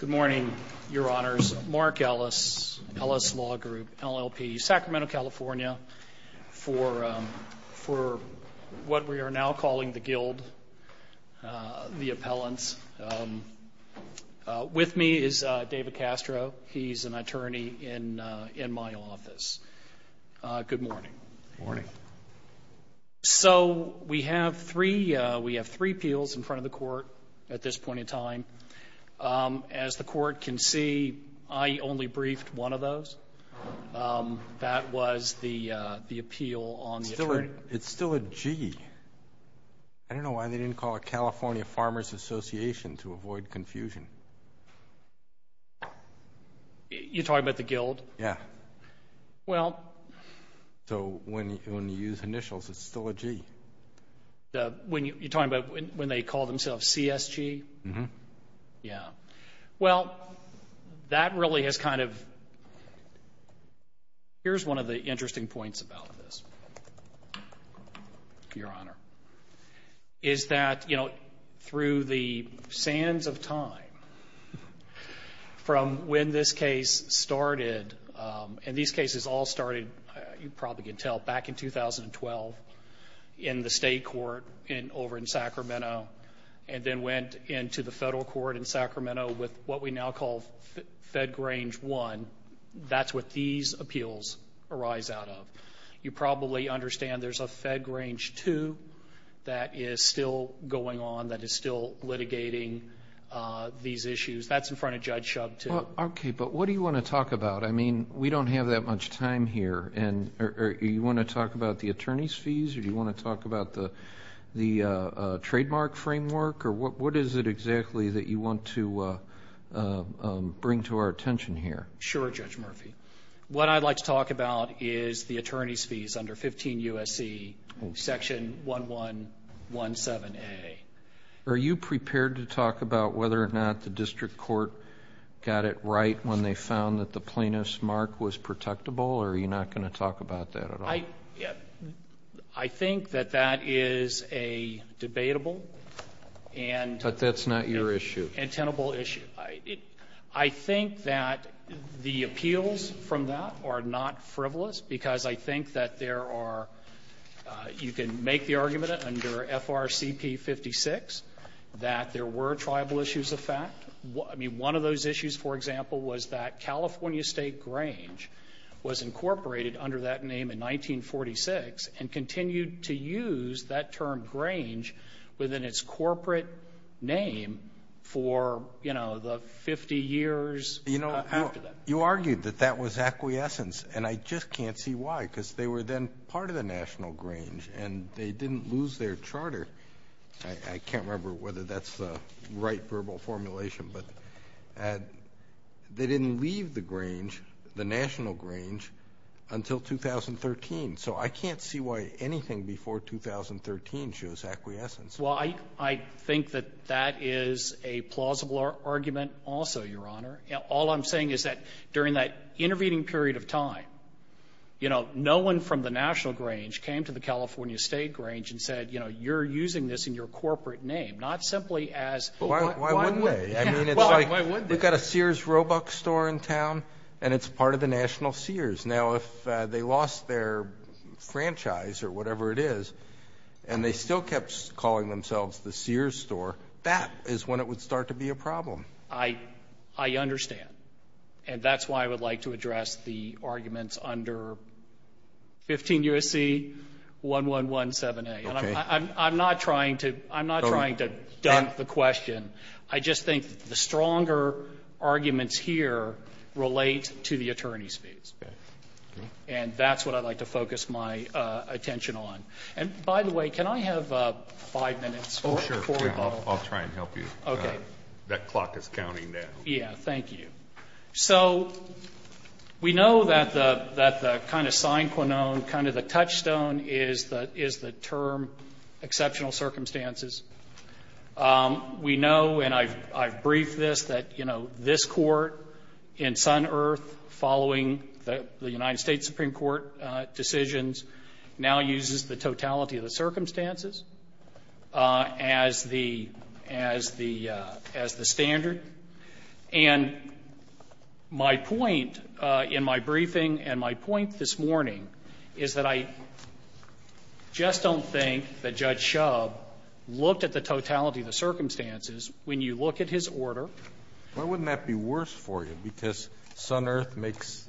Good morning, your honors. Mark Ellis, Ellis Law Group, LLP, Sacramento, California, for what we are now calling the guild, the appellants. With me is David Castro. He's an attorney in my office. Good morning. Good morning. So we have three appeals in front of the court at this point in time. As the court can see, I only briefed one of those. That was the appeal on the attorney. It's still a G. I don't know why they didn't call it California Farmers Association to avoid confusion. You're talking about the guild? Yeah. So when you use initials, it's still a G. You're talking about when they call themselves CSG? Yeah. Well, that really has kind of, here's one of the interesting points about this, your honor, is that, you know, through the sands of time, from when this case started, and these cases all started, you probably can tell, back in 2012, in the state court over in Sacramento, and then went into the federal court in Sacramento with what we now call Fed Grange 1. That's what these appeals arise out of. You probably understand there's a Fed Grange 2 that is still going on, that is still litigating these issues. That's in front of Judge Shub 2. Okay, but what do you want to talk about? I mean, we don't have that much time here. Do you want to talk about the attorney's fees? Do you want to talk about the trademark framework? What is it exactly that you want to bring to our attention here? Sure, Judge Murphy. What I'd like to talk about is the attorney's fees under 15 U.S.C. section 1117A. Are you prepared to talk about whether or not the district court got it right when they found that the plaintiff's mark was protectable, or are you not going to talk about that at all? I think that that is a debatable and But that's not your issue. and tenable issue. I think that the appeals from that are not frivolous because I think that there are, you can make the argument under FRCP 56 that there were tribal issues of fact. I mean, one of those issues, for example, was that California State Grange was incorporated under that name in 1946 and continued to use that term Grange within its corporate name for, you know, the 50 years after that. You know, you argued that that was acquiescence, and I just can't see why, because they were then part of the National Grange, and they didn't lose their charter. I can't remember whether that's the right verbal formulation, but they didn't leave the Grange, the National Grange, until 2013. So I can't see why anything before 2013 shows acquiescence. Well, I think that that is a plausible argument also, Your Honor. All I'm saying is that during that intervening period of time, you know, no one from the National Grange came to the California State Grange and said, you know, you're using this in your corporate name, not simply as Well, why wouldn't they? I mean, it's like we've got a Sears Roebuck store in town, and it's part of the National Sears. Now, if they lost their franchise or whatever it is, and they still kept calling themselves the Sears store, that is when it would start to be a problem. I understand. And that's why I would like to address the arguments under 15 U.S.C. 1117A. Okay. And I'm not trying to dunk the question. I just think the stronger arguments here relate to the attorney's fees. Okay. And that's what I'd like to focus my attention on. And, by the way, can I have five minutes? Oh, sure. I'll try and help you. Okay. That clock is counting now. Yeah. Thank you. So we know that the kind of sine qua non, kind of the touchstone is the term exceptional circumstances. We know, and I've briefed this, that, you know, this court in Sun Earth, following the United States Supreme Court decisions, now uses the totality of the circumstances as the standard. And my point in my briefing and my point this morning is that I just don't think that Judge Shub looked at the totality of the circumstances when you look at his order. Why wouldn't that be worse for you? Because Sun Earth makes,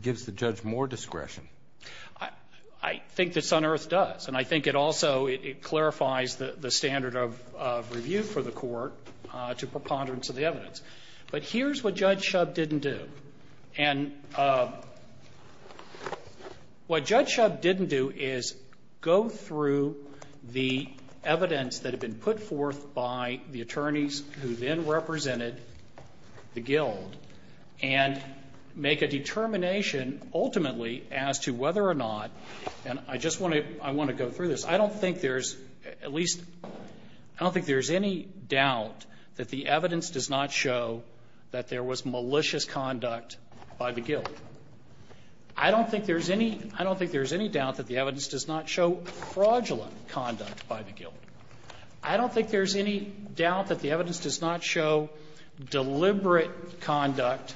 gives the judge more discretion. I think that Sun Earth does. And I think it also, it clarifies the standard of review for the court to preponderance of the evidence. But here's what Judge Shub didn't do. And what Judge Shub didn't do is go through the evidence that had been put forth by the attorneys who then represented the guild and make a determination ultimately as to whether or not, and I just want to, I want to go through this. I don't think there's at least, I don't think there's any doubt that the evidence does not show that there was malicious conduct by the guild. I don't think there's any, I don't think there's any doubt that the evidence does not show fraudulent conduct by the guild. I don't think there's any doubt that the evidence does not show deliberate conduct,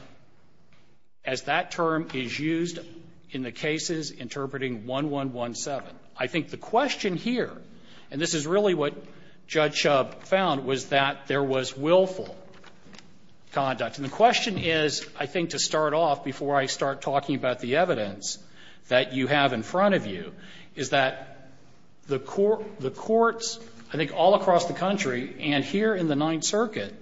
as that term is used in the cases interpreting 1117. I think the question here, and this is really what Judge Shub found, was that there was willful conduct. And the question is, I think to start off before I start talking about the evidence that you have in front of you, is that the court, the courts, I think all across the country and here in the Ninth Circuit,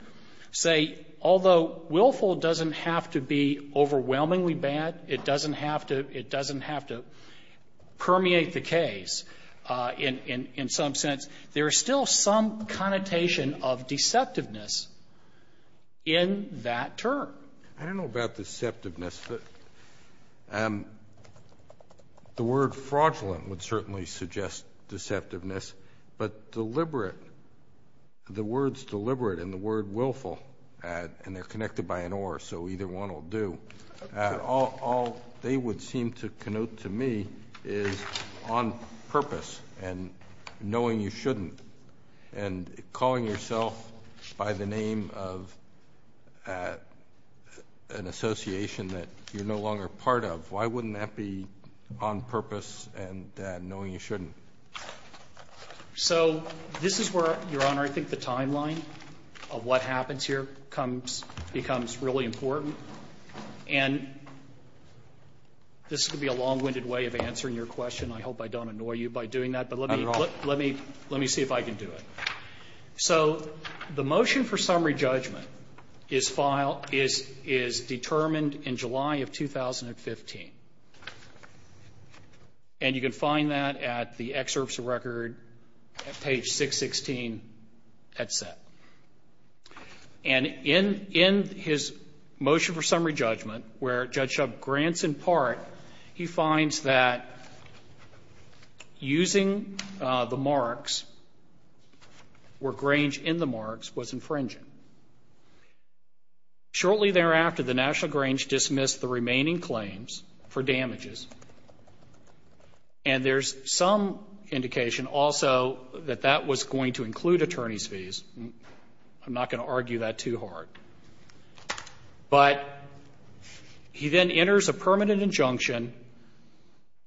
say, although willful doesn't have to be overwhelmingly bad, it doesn't have to, it doesn't have to permeate the case in some sense, there is still some connotation of deceptiveness in that term. I don't know about deceptiveness, but the word fraudulent would certainly suggest deceptiveness, but deliberate, the words deliberate and the word willful, and they're connected by an or, so either one will do. All they would seem to connote to me is on purpose and knowing you shouldn't and calling yourself by the name of an association that you're no longer part of. Why wouldn't that be on purpose and knowing you shouldn't? So this is where, Your Honor, I think the timeline of what happens here comes, becomes really important, and this could be a long-winded way of answering your question. I hope I don't annoy you by doing that, but let me see if I can do it. So the motion for summary judgment is filed, is determined in July of 2015, and you can find that at the excerpts of record at page 616 at set. And in his motion for summary judgment, where Judge Shub grants in part, he finds that using the marks where Grange in the marks was infringing. Shortly thereafter, the National Grange dismissed the remaining claims for damages, and there's some indication also that that was going to include attorney's fees. I'm not going to argue that too hard. But he then enters a permanent injunction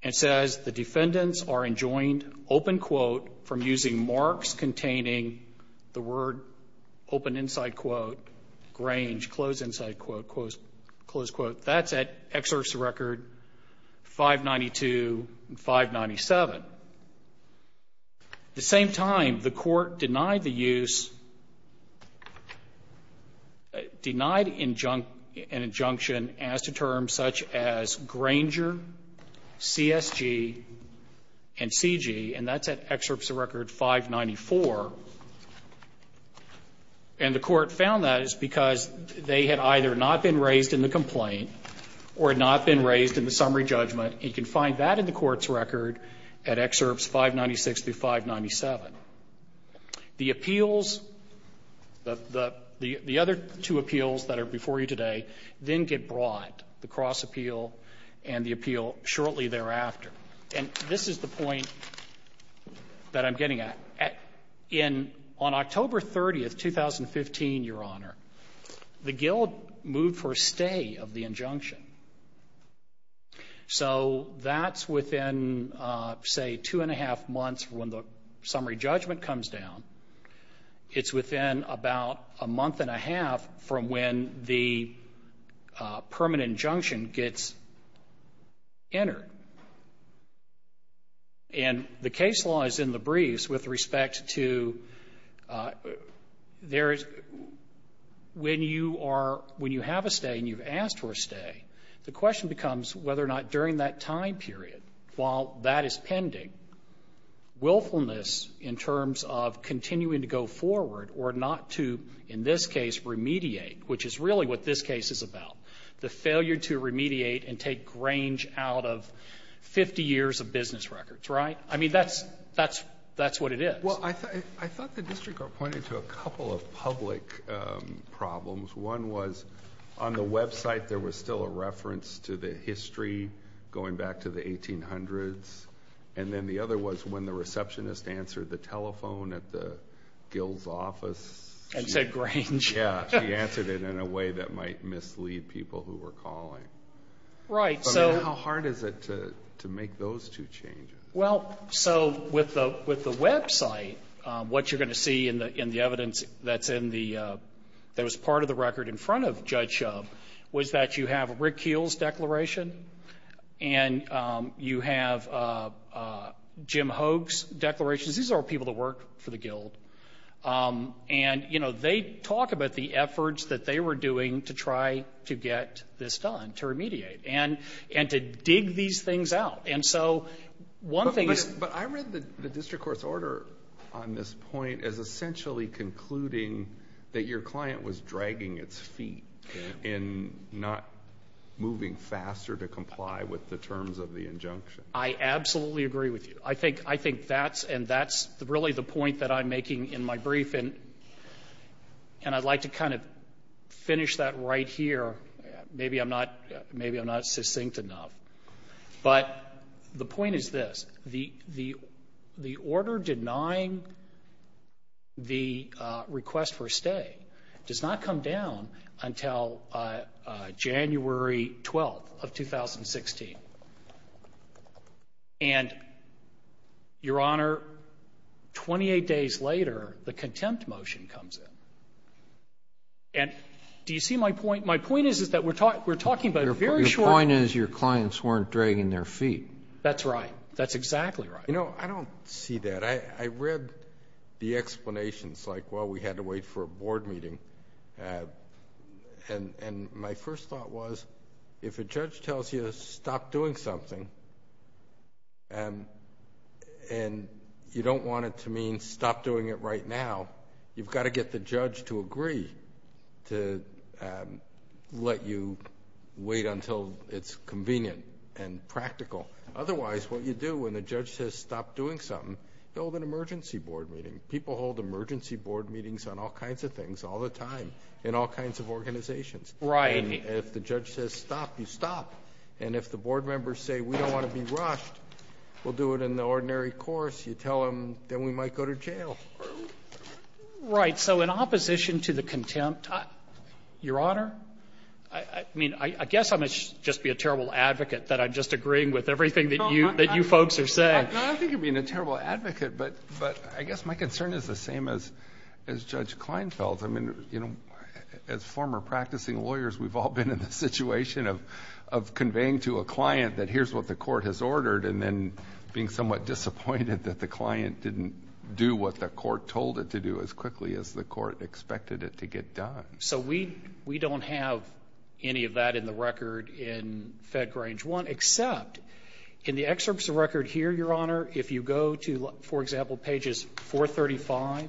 and says the defendants are enjoined, open quote, from using marks containing the word, open inside quote, Grange, close inside quote, close quote. That's at excerpts of record 592 and 597. At the same time, the court denied the use, denied an injunction as to terms such as Granger, CSG, and CG, and that's at excerpts of record 594. And the court found that is because they had either not been raised in the complaint or had not been raised in the summary judgment. And you can find that in the court's record at excerpts 596 through 597. The appeals, the other two appeals that are before you today, then get brought, the cross appeal and the appeal shortly thereafter. And this is the point that I'm getting at. On October 30th, 2015, Your Honor, the guild moved for a stay of the injunction. So that's within, say, two and a half months from when the summary judgment comes down. It's within about a month and a half from when the permanent injunction gets entered. And the case law is in the briefs with respect to there is, when you are, when you have a stay and you've asked for a stay, the question becomes whether or not during that time period, while that is pending, willfulness in terms of continuing to go forward or not to, in this case, remediate, which is really what this case is about, the failure to remediate and take Grange out of 50 years of business On the website, there was still a reference to the history going back to the 1800s. And then the other was when the receptionist answered the telephone at the guild's office. I said Grange. Yeah, she answered it in a way that might mislead people who were calling. Right. I mean, how hard is it to make those two changes? Well, so with the website, what you're going to see in the evidence that's in the, that was part of the record in front of Judge Shub was that you have Rick Keele's declaration and you have Jim Hoag's declaration. These are people that work for the guild. And, you know, they talk about the efforts that they were doing to try to get this done, to remediate, and to dig these things out. And so one thing is But I read the district court's order on this point as essentially concluding that your client was dragging its feet in not moving faster to comply with the terms of the injunction. I absolutely agree with you. I think that's, and that's really the point that I'm making in my brief. And I'd like to kind of finish that right here. Maybe I'm not succinct enough. But the point is this. The order denying the request for a stay does not come down until January 12th of 2016. And, Your Honor, 28 days later, the contempt motion comes in. And do you see my point? My point is, is that we're talking about a very short time. My point is, your clients weren't dragging their feet. That's right. That's exactly right. You know, I don't see that. I read the explanations, like, well, we had to wait for a board meeting. And my first thought was, if a judge tells you to stop doing something, and you don't want it to mean stop doing it right now, you've got to get the judge to agree to let you wait until it's convenient and practical. Otherwise, what you do when the judge says stop doing something, you hold an emergency board meeting. People hold emergency board meetings on all kinds of things all the time in all kinds of organizations. Right. And if the judge says stop, you stop. And if the board members say we don't want to be rushed, we'll do it in the ordinary course. You tell them, then we might go to jail. Right. So in opposition to the contempt, Your Honor, I mean, I guess I must just be a terrible advocate that I'm just agreeing with everything that you folks are saying. No, I think you're being a terrible advocate, but I guess my concern is the same as Judge Kleinfeld. I mean, you know, as former practicing lawyers, we've all been in the situation of conveying to a client that here's what the court has ordered, and then being somewhat disappointed that the client didn't do what the court told it to do as quickly as the court expected it to get done. So we don't have any of that in the record in Fed Grange 1, except in the excerpts of record here, Your Honor, if you go to, for example, pages 435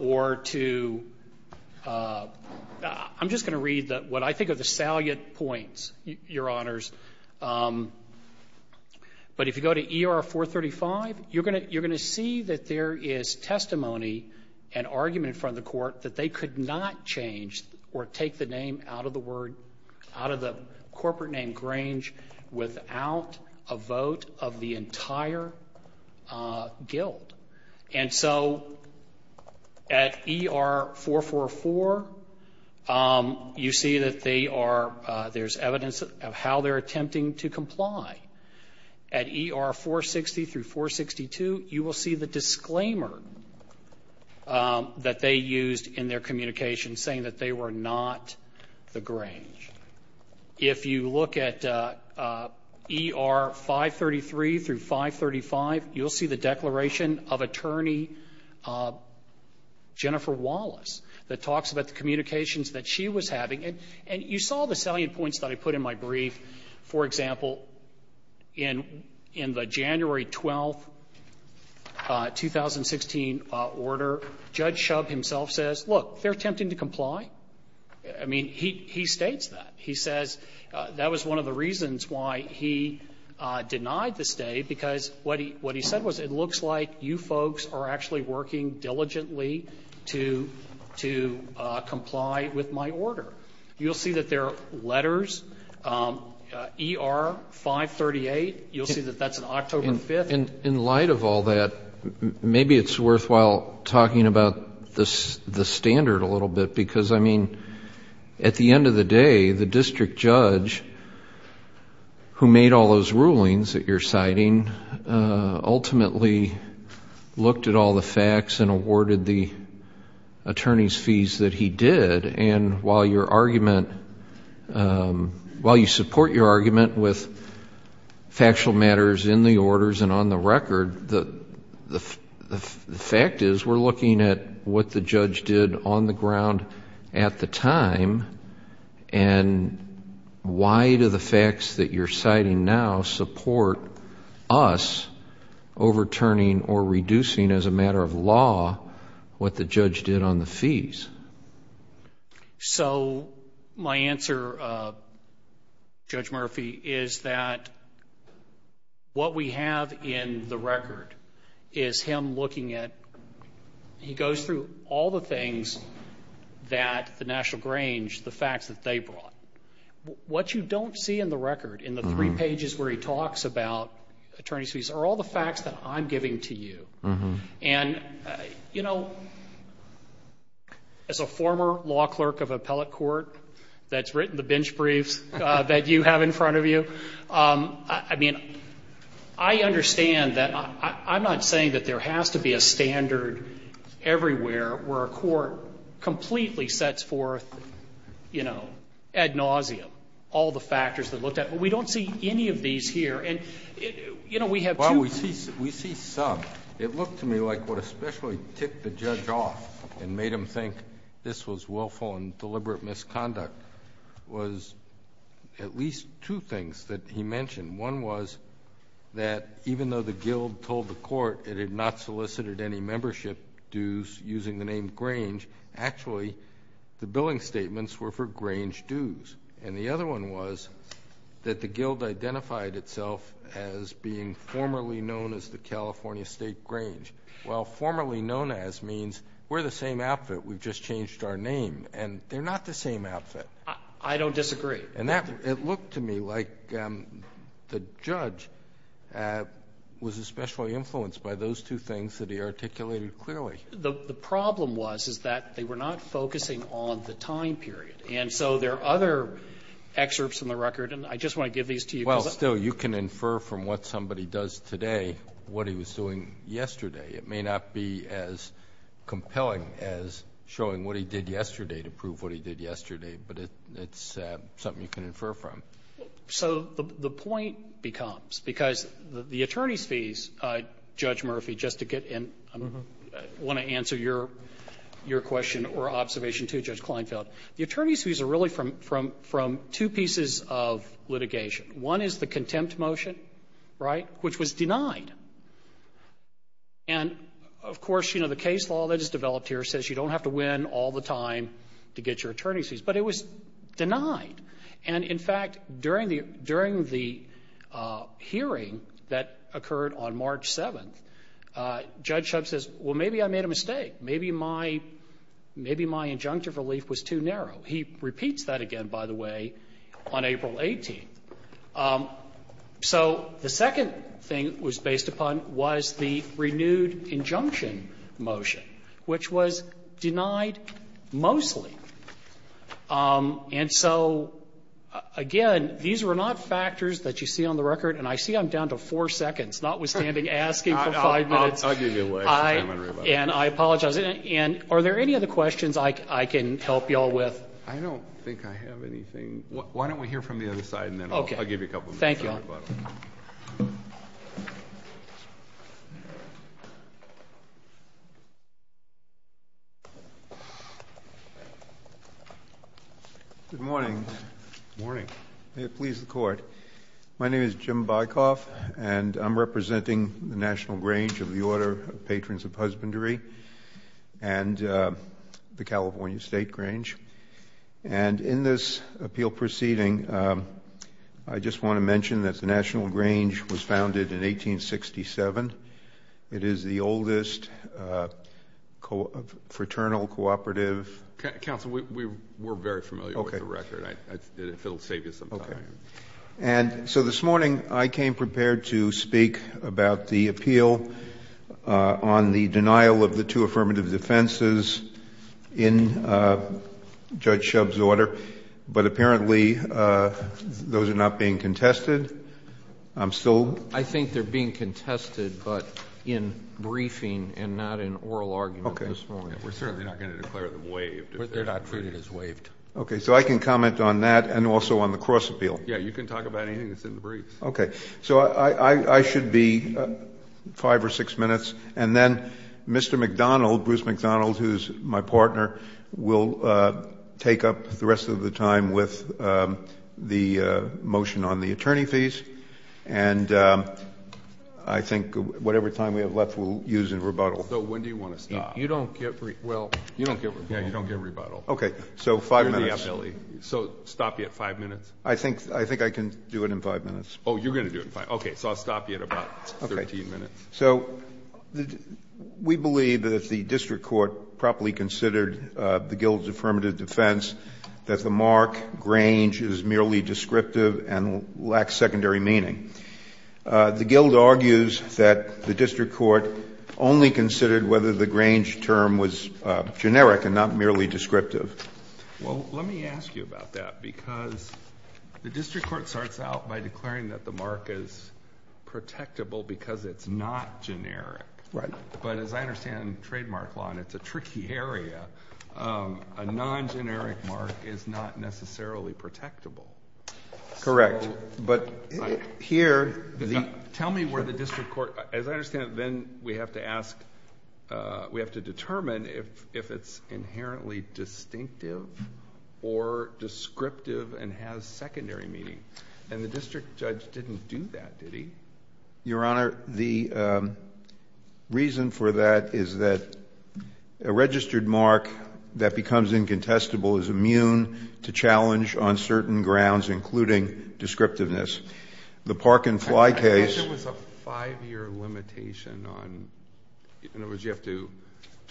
or to — I'm just going to read what I think are the salient points, Your Honors. But if you go to ER 435, you're going to see that there is testimony and argument in front of the court that they could not change or take the name out of the word — out of the corporate name Grange without a vote of the entire guild. And so at ER 444, you see that they are — there's evidence of how they're attempting to comply. At ER 460 through 462, you will see the disclaimer that they used in their communication saying that they were not the Grange. If you look at ER 533 through 535, you'll see the declaration of Attorney Jennifer Wallace that talks about the communications that she was having. And you saw the salient points that I put in my brief. For example, in the January 12, 2016, order, Judge Shub himself says, look, they're attempting to comply. I mean, he states that. He says that was one of the reasons why he denied the stay, because what he said was, it looks like you folks are actually working diligently to comply with my order. You'll see that there are letters. ER 538, you'll see that that's an October 5th. And in light of all that, maybe it's worthwhile talking about the standard a little bit, because, I mean, at the end of the day, the district judge who made all those rulings that you're citing ultimately looked at all the facts and awarded the attorney's fees that he did. And while your argument — while you support your argument with factual matters in the record, the fact is we're looking at what the judge did on the ground at the time, and why do the facts that you're citing now support us overturning or reducing as a matter of law what the judge did on the fees? So my answer, Judge Murphy, is that what we have in the record is him looking at — he goes through all the things that the National Grange, the facts that they brought. What you don't see in the record, in the three pages where he talks about attorney's fees, are all the facts that I'm giving to you. And, you know, as a former law clerk of appellate court that's written the bench briefs that you have in front of you, I mean, I understand that — I'm not saying that there has to be a standard everywhere where a court completely sets forth, you know, ad nauseam all the factors that looked at. But we don't see any of these here. And, you know, we have two — It looked to me like what especially ticked the judge off and made him think this was willful and deliberate misconduct was at least two things that he mentioned. One was that even though the guild told the court it had not solicited any membership dues using the name Grange, actually the billing statements were for Grange dues. And the other one was that the guild identified itself as being formerly known as the name Grange, while formerly known as means we're the same outfit, we've just changed our name, and they're not the same outfit. I don't disagree. And that — it looked to me like the judge was especially influenced by those two things that he articulated clearly. The problem was, is that they were not focusing on the time period. And so there are other excerpts in the record, and I just want to give these to you Well, still, you can infer from what somebody does today what he was doing yesterday. It may not be as compelling as showing what he did yesterday to prove what he did yesterday, but it's something you can infer from. So the point becomes, because the attorney's fees, Judge Murphy, just to get in, I want to answer your question or observation, too, Judge Kleinfeld. The attorney's fees are really from two pieces of litigation. One is the contempt motion, right, which was denied. And, of course, you know, the case law that is developed here says you don't have to win all the time to get your attorney's fees. But it was denied. And, in fact, during the hearing that occurred on March 7th, Judge Shub says, well, maybe I made a mistake. Maybe my injunctive relief was too narrow. He repeats that again, by the way, on April 18th. So the second thing it was based upon was the renewed injunction motion, which was denied mostly. And so, again, these were not factors that you see on the record, and I see I'm down to four seconds, notwithstanding asking for five minutes. I'll give you a way to do that. And I apologize. Mr. President, are there any other questions I can help you all with? I don't think I have anything. Why don't we hear from the other side, and then I'll give you a couple minutes. Okay. Thank you, Your Honor. Good morning. Good morning. May it please the Court. My name is Jim Bycoff, and I'm representing the National Grange of the Order of Patrons of Husbandry and the California State Grange. And in this appeal proceeding, I just want to mention that the National Grange was founded in 1867. It is the oldest fraternal cooperative. Counsel, we're very familiar with the record. If it will save you some time. Okay. And so this morning I came prepared to speak about the appeal on the denial of the two affirmative defenses in Judge Shub's order, but apparently those are not being contested. I'm still. I think they're being contested, but in briefing and not in oral argument this morning. Okay. We're certainly not going to declare them waived. They're not treated as waived. Okay. So I can comment on that and also on the cross appeal. Yeah, you can talk about anything that's in the briefs. Okay. So I should be five or six minutes, and then Mr. McDonald, Bruce McDonald, who's my partner, will take up the rest of the time with the motion on the attorney fees, and I think whatever time we have left we'll use in rebuttal. So when do you want to stop? You don't get, well, you don't get rebuttal. Yeah, you don't get rebuttal. Okay. So five minutes. So stop you at five minutes. I think I can do it in five minutes. Oh, you're going to do it in five. Okay. So I'll stop you at about 13 minutes. Okay. So we believe that if the district court properly considered the Guild's affirmative defense, that the mark Grange is merely descriptive and lacks secondary meaning. The Guild argues that the district court only considered whether the Grange term was generic and not merely descriptive. Well, let me ask you about that, because the district court starts out by declaring that the mark is protectable because it's not generic. Right. But as I understand trademark law, and it's a tricky area, a non-generic mark is not necessarily protectable. Correct. But here the- Tell me where the district court, as I understand it, then we have to ask, we have to determine if it's inherently distinctive or descriptive and has secondary meaning. And the district judge didn't do that, did he? Your Honor, the reason for that is that a registered mark that becomes incontestable is immune to challenge on certain grounds, including descriptiveness. The Park and Fly case- I thought there was a 5-year limitation on, in other words, you have to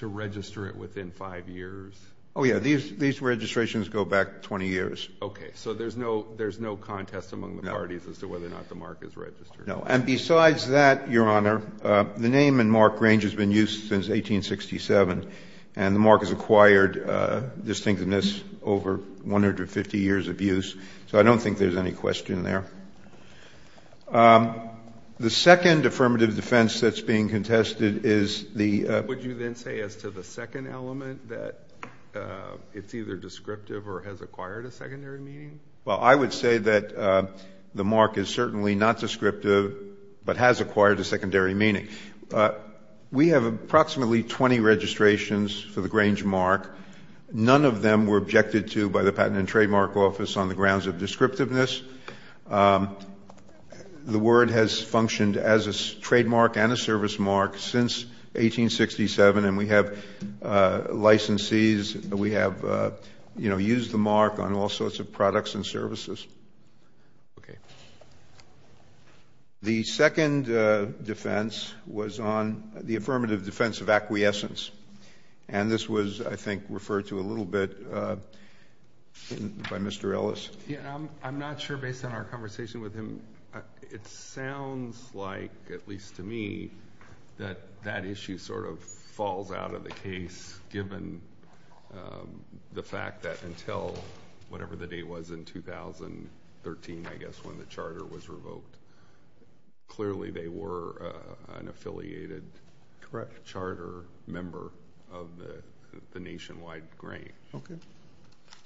register it within 5 years. Oh, yeah. These registrations go back 20 years. Okay. So there's no contest among the parties as to whether or not the mark is registered. No. And besides that, Your Honor, the name and mark Grange has been used since 1867, and the mark has acquired distinctiveness over 150 years of use, so I don't think there's any question there. The second affirmative defense that's being contested is the- Would you then say as to the second element that it's either descriptive or has acquired a secondary meaning? Well, I would say that the mark is certainly not descriptive but has acquired a secondary meaning. We have approximately 20 registrations for the Grange mark. None of them were objected to by the Patent and Trademark Office on the grounds of descriptiveness. The word has functioned as a trademark and a service mark since 1867, and we have licensees. We have, you know, used the mark on all sorts of products and services. Okay. The second defense was on the affirmative defense of acquiescence, and this was, I think, referred to a little bit by Mr. Ellis. I'm not sure based on our conversation with him. It sounds like, at least to me, that that issue sort of falls out of the case given the fact that until whatever the date was in 2013, I guess, when the charter was revoked, clearly they were an affiliated charter member of the nationwide Grange. Okay.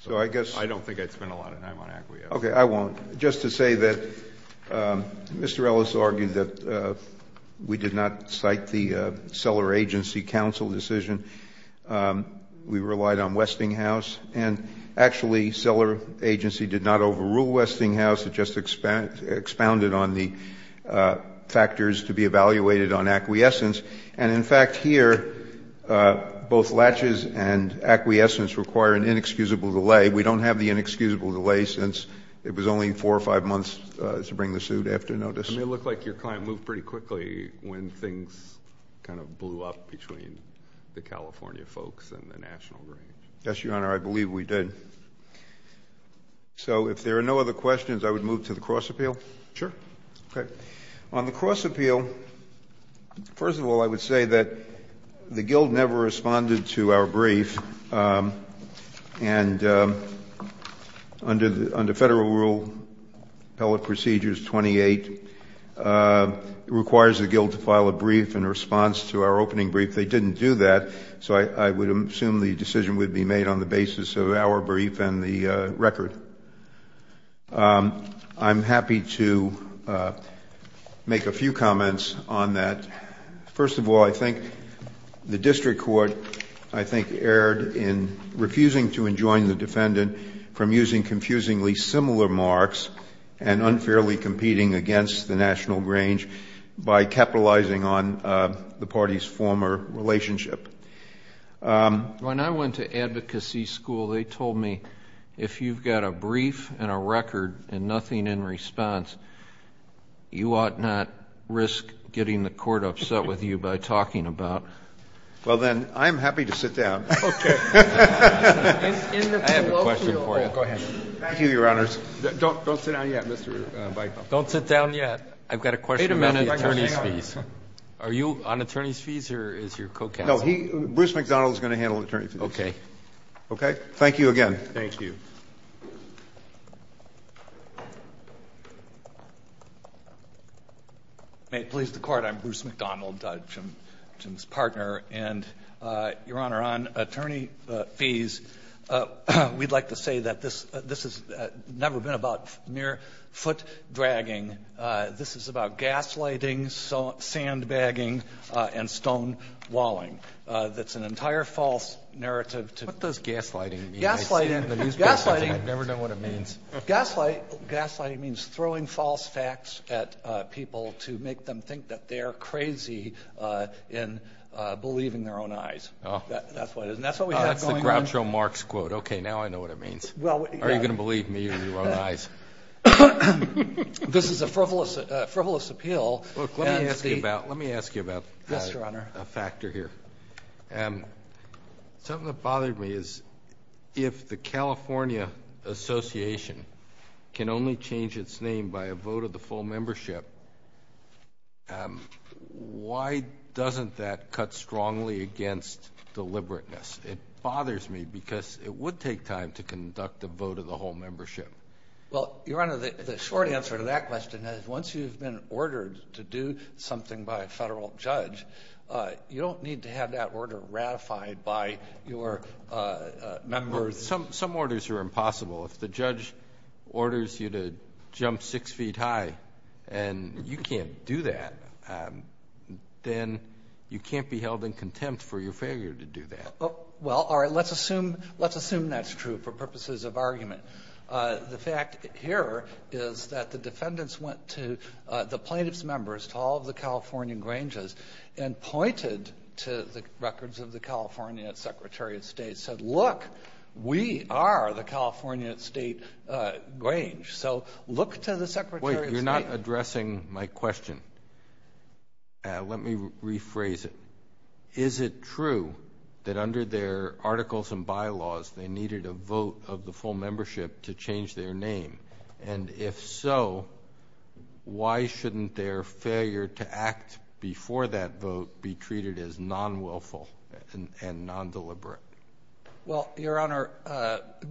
I don't think I'd spend a lot of time on acquiescence. Okay, I won't. Just to say that Mr. Ellis argued that we did not cite the seller agency counsel decision. We relied on Westinghouse, and actually seller agency did not overrule on the factors to be evaluated on acquiescence. And, in fact, here, both latches and acquiescence require an inexcusable delay. We don't have the inexcusable delay since it was only four or five months to bring the suit after notice. And it looked like your client moved pretty quickly when things kind of blew up between the California folks and the national Grange. Yes, Your Honor, I believe we did. So if there are no other questions, I would move to the cross appeal. Sure. Okay. On the cross appeal, first of all, I would say that the guild never responded to our brief, and under Federal Rule Appellate Procedures 28, it requires the guild to file a brief in response to our opening brief. They didn't do that, so I would assume the decision would be made on the basis of our brief and the record. I'm happy to make a few comments on that. First of all, I think the district court, I think, erred in refusing to enjoin the defendant from using confusingly similar marks and unfairly competing against the national Grange by capitalizing on the party's former relationship. When I went to advocacy school, they told me, if you've got a brief and a record and nothing in response, you ought not risk getting the court upset with you by talking about. Well, then, I'm happy to sit down. Okay. I have a question for you. Go ahead. Thank you, Your Honors. Don't sit down yet, Mr. Bicamp. Don't sit down yet. I've got a question about the attorney's fees. Are you on attorney's fees or is your co-counsel? No, Bruce McDonald is going to handle attorney's fees. Okay. Okay? Thank you again. Thank you. May it please the Court, I'm Bruce McDonald, Jim's partner. And, Your Honor, on attorney fees, we'd like to say that this has never been about mere foot dragging. This is about gaslighting, sandbagging, and stonewalling. That's an entire false narrative. What does gaslighting mean? Gaslighting. I've never known what it means. Gaslighting means throwing false facts at people to make them think that they're crazy in believing their own eyes. That's what it is. And that's what we have going on. That's the Groucho Marx quote. Okay. Now I know what it means. Are you going to believe me or your own eyes? This is a frivolous appeal. Look, let me ask you about a factor here. Yes, Your Honor. Something that bothered me is if the California Association can only change its name by a vote of the full membership, why doesn't that cut strongly against deliberateness? It bothers me because it would take time to conduct a vote of the whole membership. Well, Your Honor, the short answer to that question is once you've been ordered to do something by a federal judge, you don't need to have that order ratified by your members. Some orders are impossible. If the judge orders you to jump six feet high and you can't do that, then you can't be held in contempt for your failure to do that. Well, all right, let's assume that's true for purposes of argument. The fact here is that the defendants went to the plaintiff's members, to all of the California Granges, and pointed to the records of the California Secretary of State and said, look, we are the California State Grange. So look to the Secretary of State. Wait, you're not addressing my question. Let me rephrase it. Is it true that under their articles and bylaws they needed a vote of the full membership to change their name? And if so, why shouldn't their failure to act before that vote be treated as non-willful and non-deliberate? Well, Your Honor,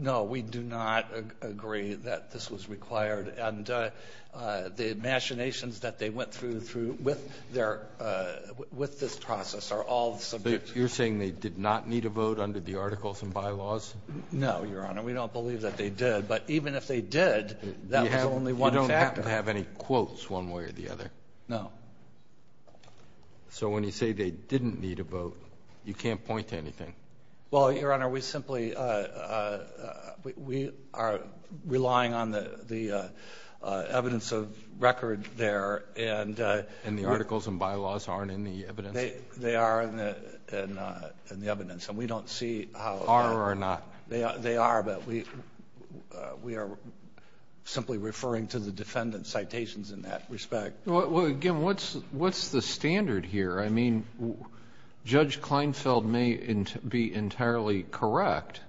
no, we do not agree that this was required. And the machinations that they went through with their ‑‑ with this process are all subject to ‑‑ You're saying they did not need a vote under the articles and bylaws? No, Your Honor. We don't believe that they did. But even if they did, that was only one factor. You don't happen to have any quotes one way or the other? No. So when you say they didn't need a vote, you can't point to anything? Well, Your Honor, we simply ‑‑ we are relying on the evidence of record there. And the articles and bylaws aren't in the evidence? They are in the evidence. And we don't see how ‑‑ Are or are not? They are, but we are simply referring to the defendant's citations in that respect. Well, again, what's the standard here? I mean, Judge Kleinfeld may be entirely correct,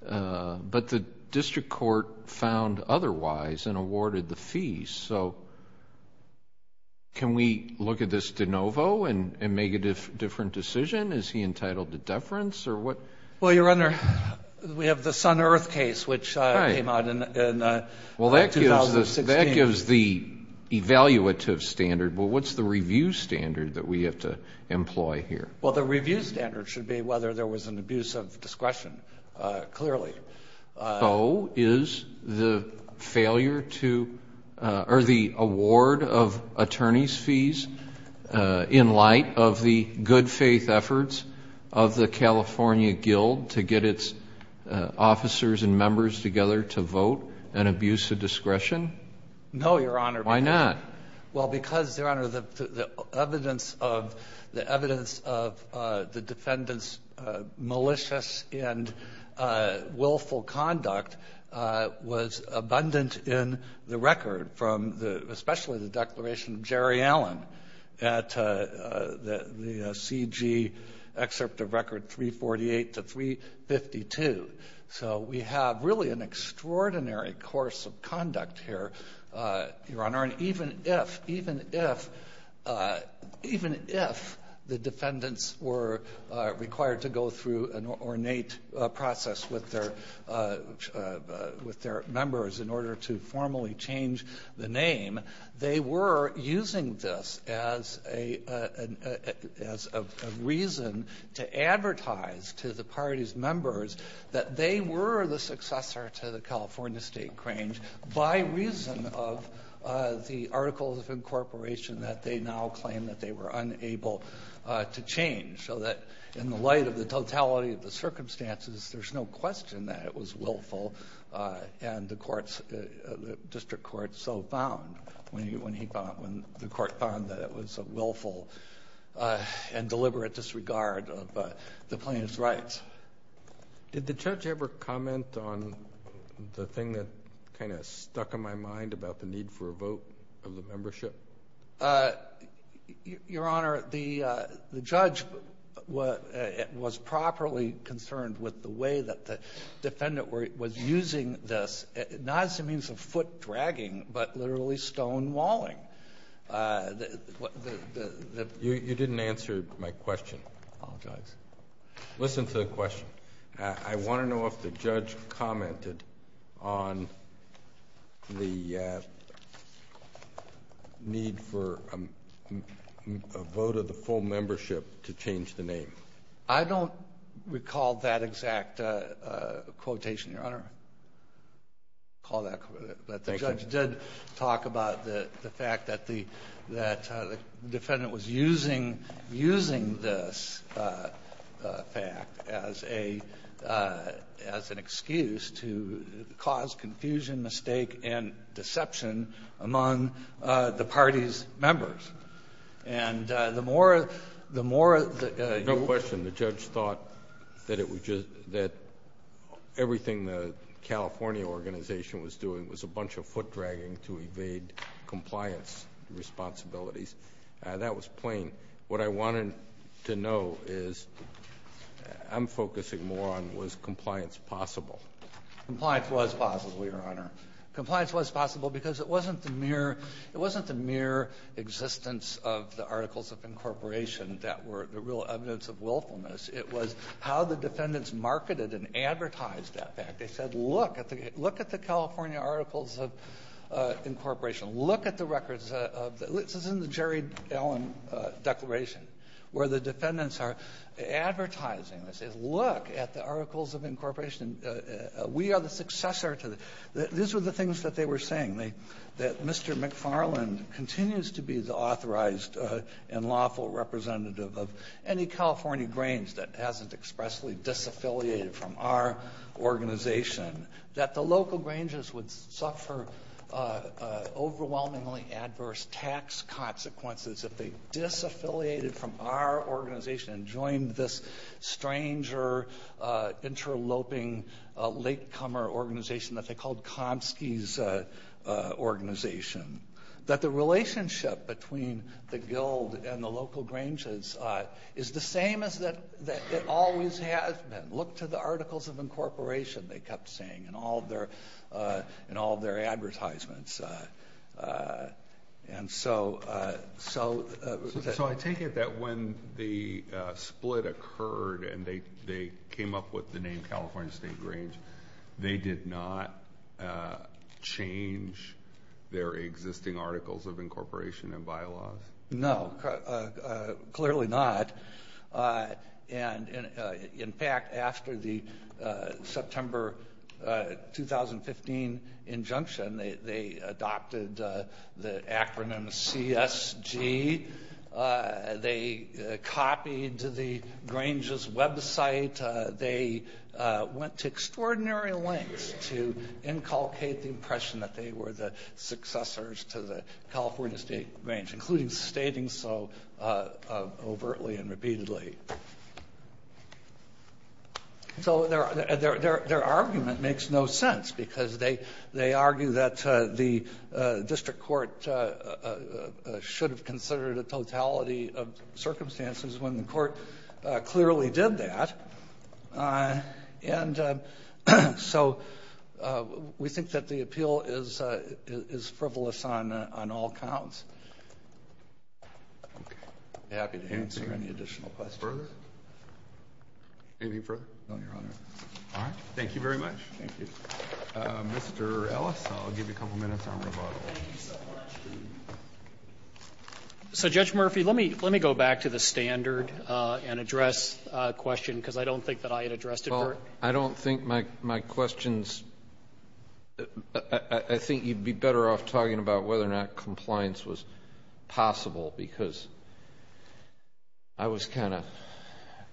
but the district court found otherwise and awarded the fees. So can we look at this de novo and make a different decision? Is he entitled to deference or what? Well, Your Honor, we have the Sun Earth case, which came out in 2016. Well, that gives the evaluative standard. Well, what's the review standard that we have to employ here? Well, the review standard should be whether there was an abuse of discretion, clearly. So is the failure to ‑‑ or the award of attorney's fees in light of the good faith efforts of the California Guild to get its officers and members together to vote an abuse of discretion? No, Your Honor. Why not? Well, because, Your Honor, the evidence of the defendant's malicious and willful conduct was abundant in the record, especially the declaration of Jerry Allen at the CG excerpt of record 348 to 352. So we have really an extraordinary course of conduct here, Your Honor. And even if the defendants were required to go through an ornate process with their members in order to formally change the name, they were using this as a reason to advertise to the party's members that they were the successor to the California State Cranes by reason of the articles of incorporation that they now claim that they were unable to change. So that in the light of the totality of the circumstances, there's no question that it was willful, and the district court so found when the court found that it was a willful and deliberate disregard of the plaintiff's rights. Did the judge ever comment on the thing that kind of stuck in my mind about the need for a vote of the membership? Your Honor, the judge was properly concerned with the way that the defendant was using this, not as a means of foot dragging, but literally stonewalling. You didn't answer my question. Listen to the question. I want to know if the judge commented on the need for a vote of the full membership to change the name. I don't recall that exact quotation, Your Honor. I recall that the judge did talk about the fact that the defendant was using this fact as an excuse to cause confusion, mistake, and deception among the party's members. And the more the more... No question, the judge thought that everything the California organization was doing was a bunch of foot dragging to evade compliance responsibilities. That was plain. And what I wanted to know is, I'm focusing more on, was compliance possible? Compliance was possible, Your Honor. Compliance was possible because it wasn't the mere existence of the Articles of Incorporation that were the real evidence of willfulness. It was how the defendants marketed and advertised that fact. They said, look at the California Articles of Incorporation. Look at the records. This is in the Jerry Allen Declaration, where the defendants are advertising. They say, look at the Articles of Incorporation. We are the successor to the... These were the things that they were saying, that Mr. McFarland continues to be the authorized and lawful representative of any California grange that hasn't expressly disaffiliated from our organization, that the local granges would suffer overwhelmingly adverse tax consequences if they disaffiliated from our organization and joined this stranger, interloping, latecomer organization that they called Komsky's organization. That the relationship between the guild and the local granges is the same as it always has been. Look to the Articles of Incorporation, they kept saying in all their advertisements. So I take it that when the split occurred and they came up with the name California State Grange, they did not change their existing Articles of Incorporation and bylaws? No, clearly not. In fact, after the September 2015 injunction, they adopted the acronym CSG. They copied the grange's website. They went to extraordinary lengths to inculcate the impression that they were the successors to the California State Grange, including stating so overtly and repeatedly. So their argument makes no sense because they argue that the district court should have considered a totality of circumstances when the court clearly did that. And so we think that the appeal is frivolous on all counts. Okay. I'm happy to answer any additional questions. Further? Anything further? No, Your Honor. All right. Thank you very much. Thank you. Mr. Ellis, I'll give you a couple minutes on rebuttal. Thank you so much. So, Judge Murphy, let me go back to the standard and address a question, because I don't think that I had addressed it. Well, I don't think my questions ---- I think you'd be better off talking about whether or not compliance was possible, because I was kind of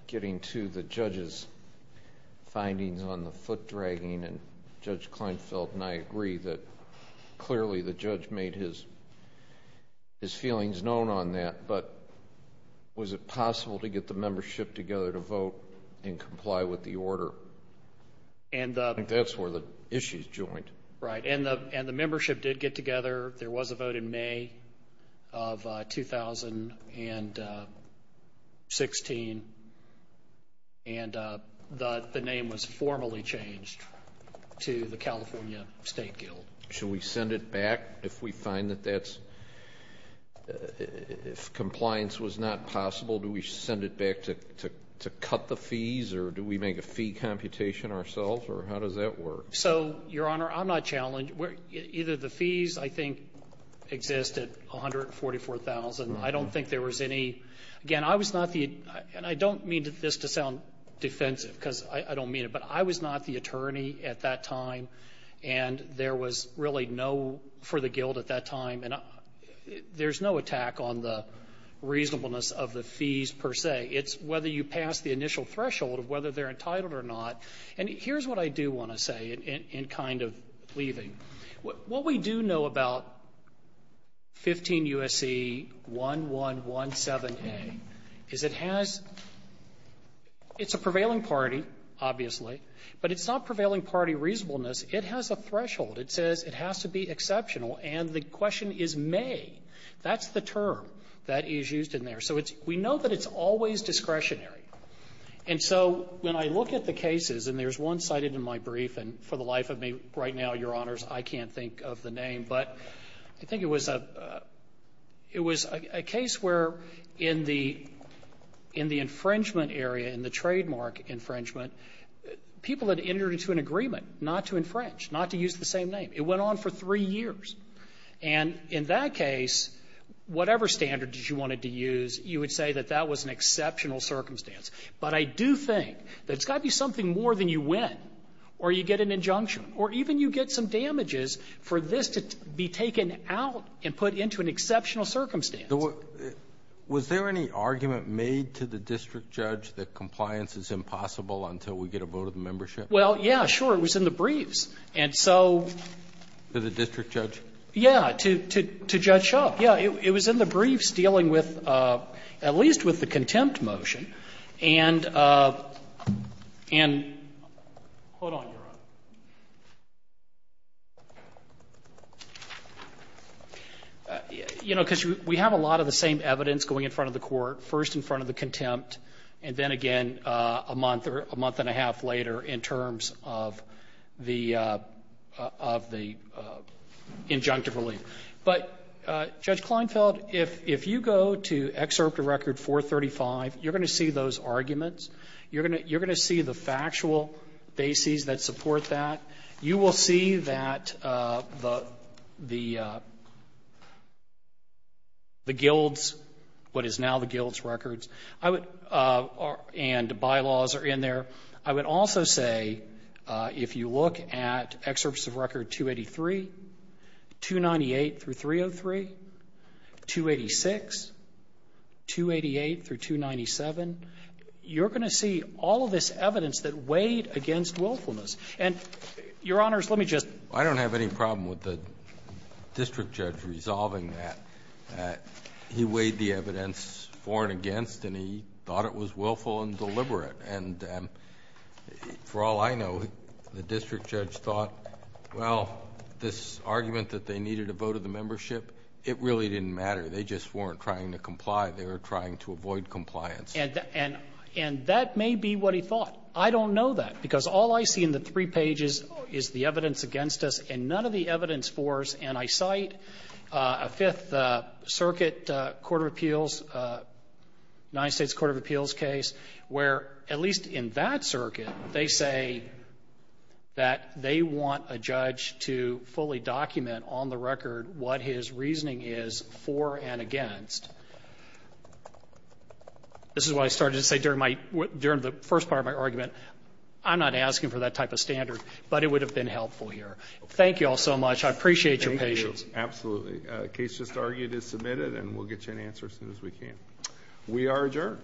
getting to the judge's findings on the foot-dragging, and Judge Kleinfeld and I agree that clearly the judge made his feelings known on that. But was it possible to get the membership together to vote and comply with the order? I think that's where the issues joined. Right. And the membership did get together. There was a vote in May of 2016, and the name was formally changed to the California State Guild. Should we send it back if we find that that's ---- if compliance was not possible, do we send it back to cut the fees, or do we make a fee computation ourselves, or how does that work? So, Your Honor, I'm not challenged. Either the fees, I think, exist at $144,000. I don't think there was any ---- again, I was not the ---- and I don't mean this to sound defensive, because I don't mean it, but I was not the attorney at that time, and there was really no ---- for the Guild at that time, and there's no attack on the reasonableness of the fees per se. It's whether you pass the initial threshold of whether they're entitled or not. And here's what I do want to say in kind of leaving. What we do know about 15 U.S.C. 1117A is it has ---- it's a prevailing party, obviously, but it's not prevailing party reasonableness. It has a threshold. It says it has to be exceptional, and the question is may. That's the term that is used in there. So it's ---- we know that it's always discretionary. And so when I look at the cases, and there's one cited in my brief, and for the life of me right now, Your Honors, I can't think of the name, but I think it was a ---- it was a case where in the infringement area, in the trademark infringement, people had entered into an agreement not to infringe, not to use the same name. It went on for three years. And in that case, whatever standard you wanted to use, you would say that that was an exceptional circumstance. But I do think that it's got to be something more than you win, or you get an injunction, or even you get some damages for this to be taken out and put into an exceptional circumstance. Alito, was there any argument made to the district judge that compliance is impossible until we get a vote of membership? Well, yeah, sure. It was in the briefs. And so ---- To the district judge? Yeah, to Judge Shub. Yeah, it was in the briefs dealing with, at least with the contempt motion. And hold on, Your Honor. You know, because we have a lot of the same evidence going in front of the court, first in front of the contempt, and then again a month or a month and a half later in terms of the injunctive relief. But, Judge Kleinfeld, if you go to Excerpt of Record 435, you're going to see those arguments. You're going to see the factual bases that support that. You will see that the guilds, what is now the guilds records, and bylaws are in there. I would also say if you look at Excerpts of Record 283, 298 through 303, 286, 288 through 297, you're going to see all of this evidence that weighed against willfulness. And, Your Honors, let me just ---- I don't have any problem with the district judge resolving that. He weighed the evidence for and against, and he thought it was willful and deliberate. And for all I know, the district judge thought, well, this argument that they needed a vote of the membership, it really didn't matter. They just weren't trying to comply. They were trying to avoid compliance. And that may be what he thought. I don't know that, because all I see in the three pages is the evidence against us and none of the evidence for us. And I cite a Fifth Circuit court of appeals, United States court of appeals case, where, at least in that circuit, they say that they want a judge to fully document on the record what his reasoning is for and against. This is what I started to say during the first part of my argument. I'm not asking for that type of standard, but it would have been helpful here. Thank you all so much. I appreciate your patience. Thank you. Absolutely. The case just argued is submitted, and we'll get you an answer as soon as we can. We are adjourned.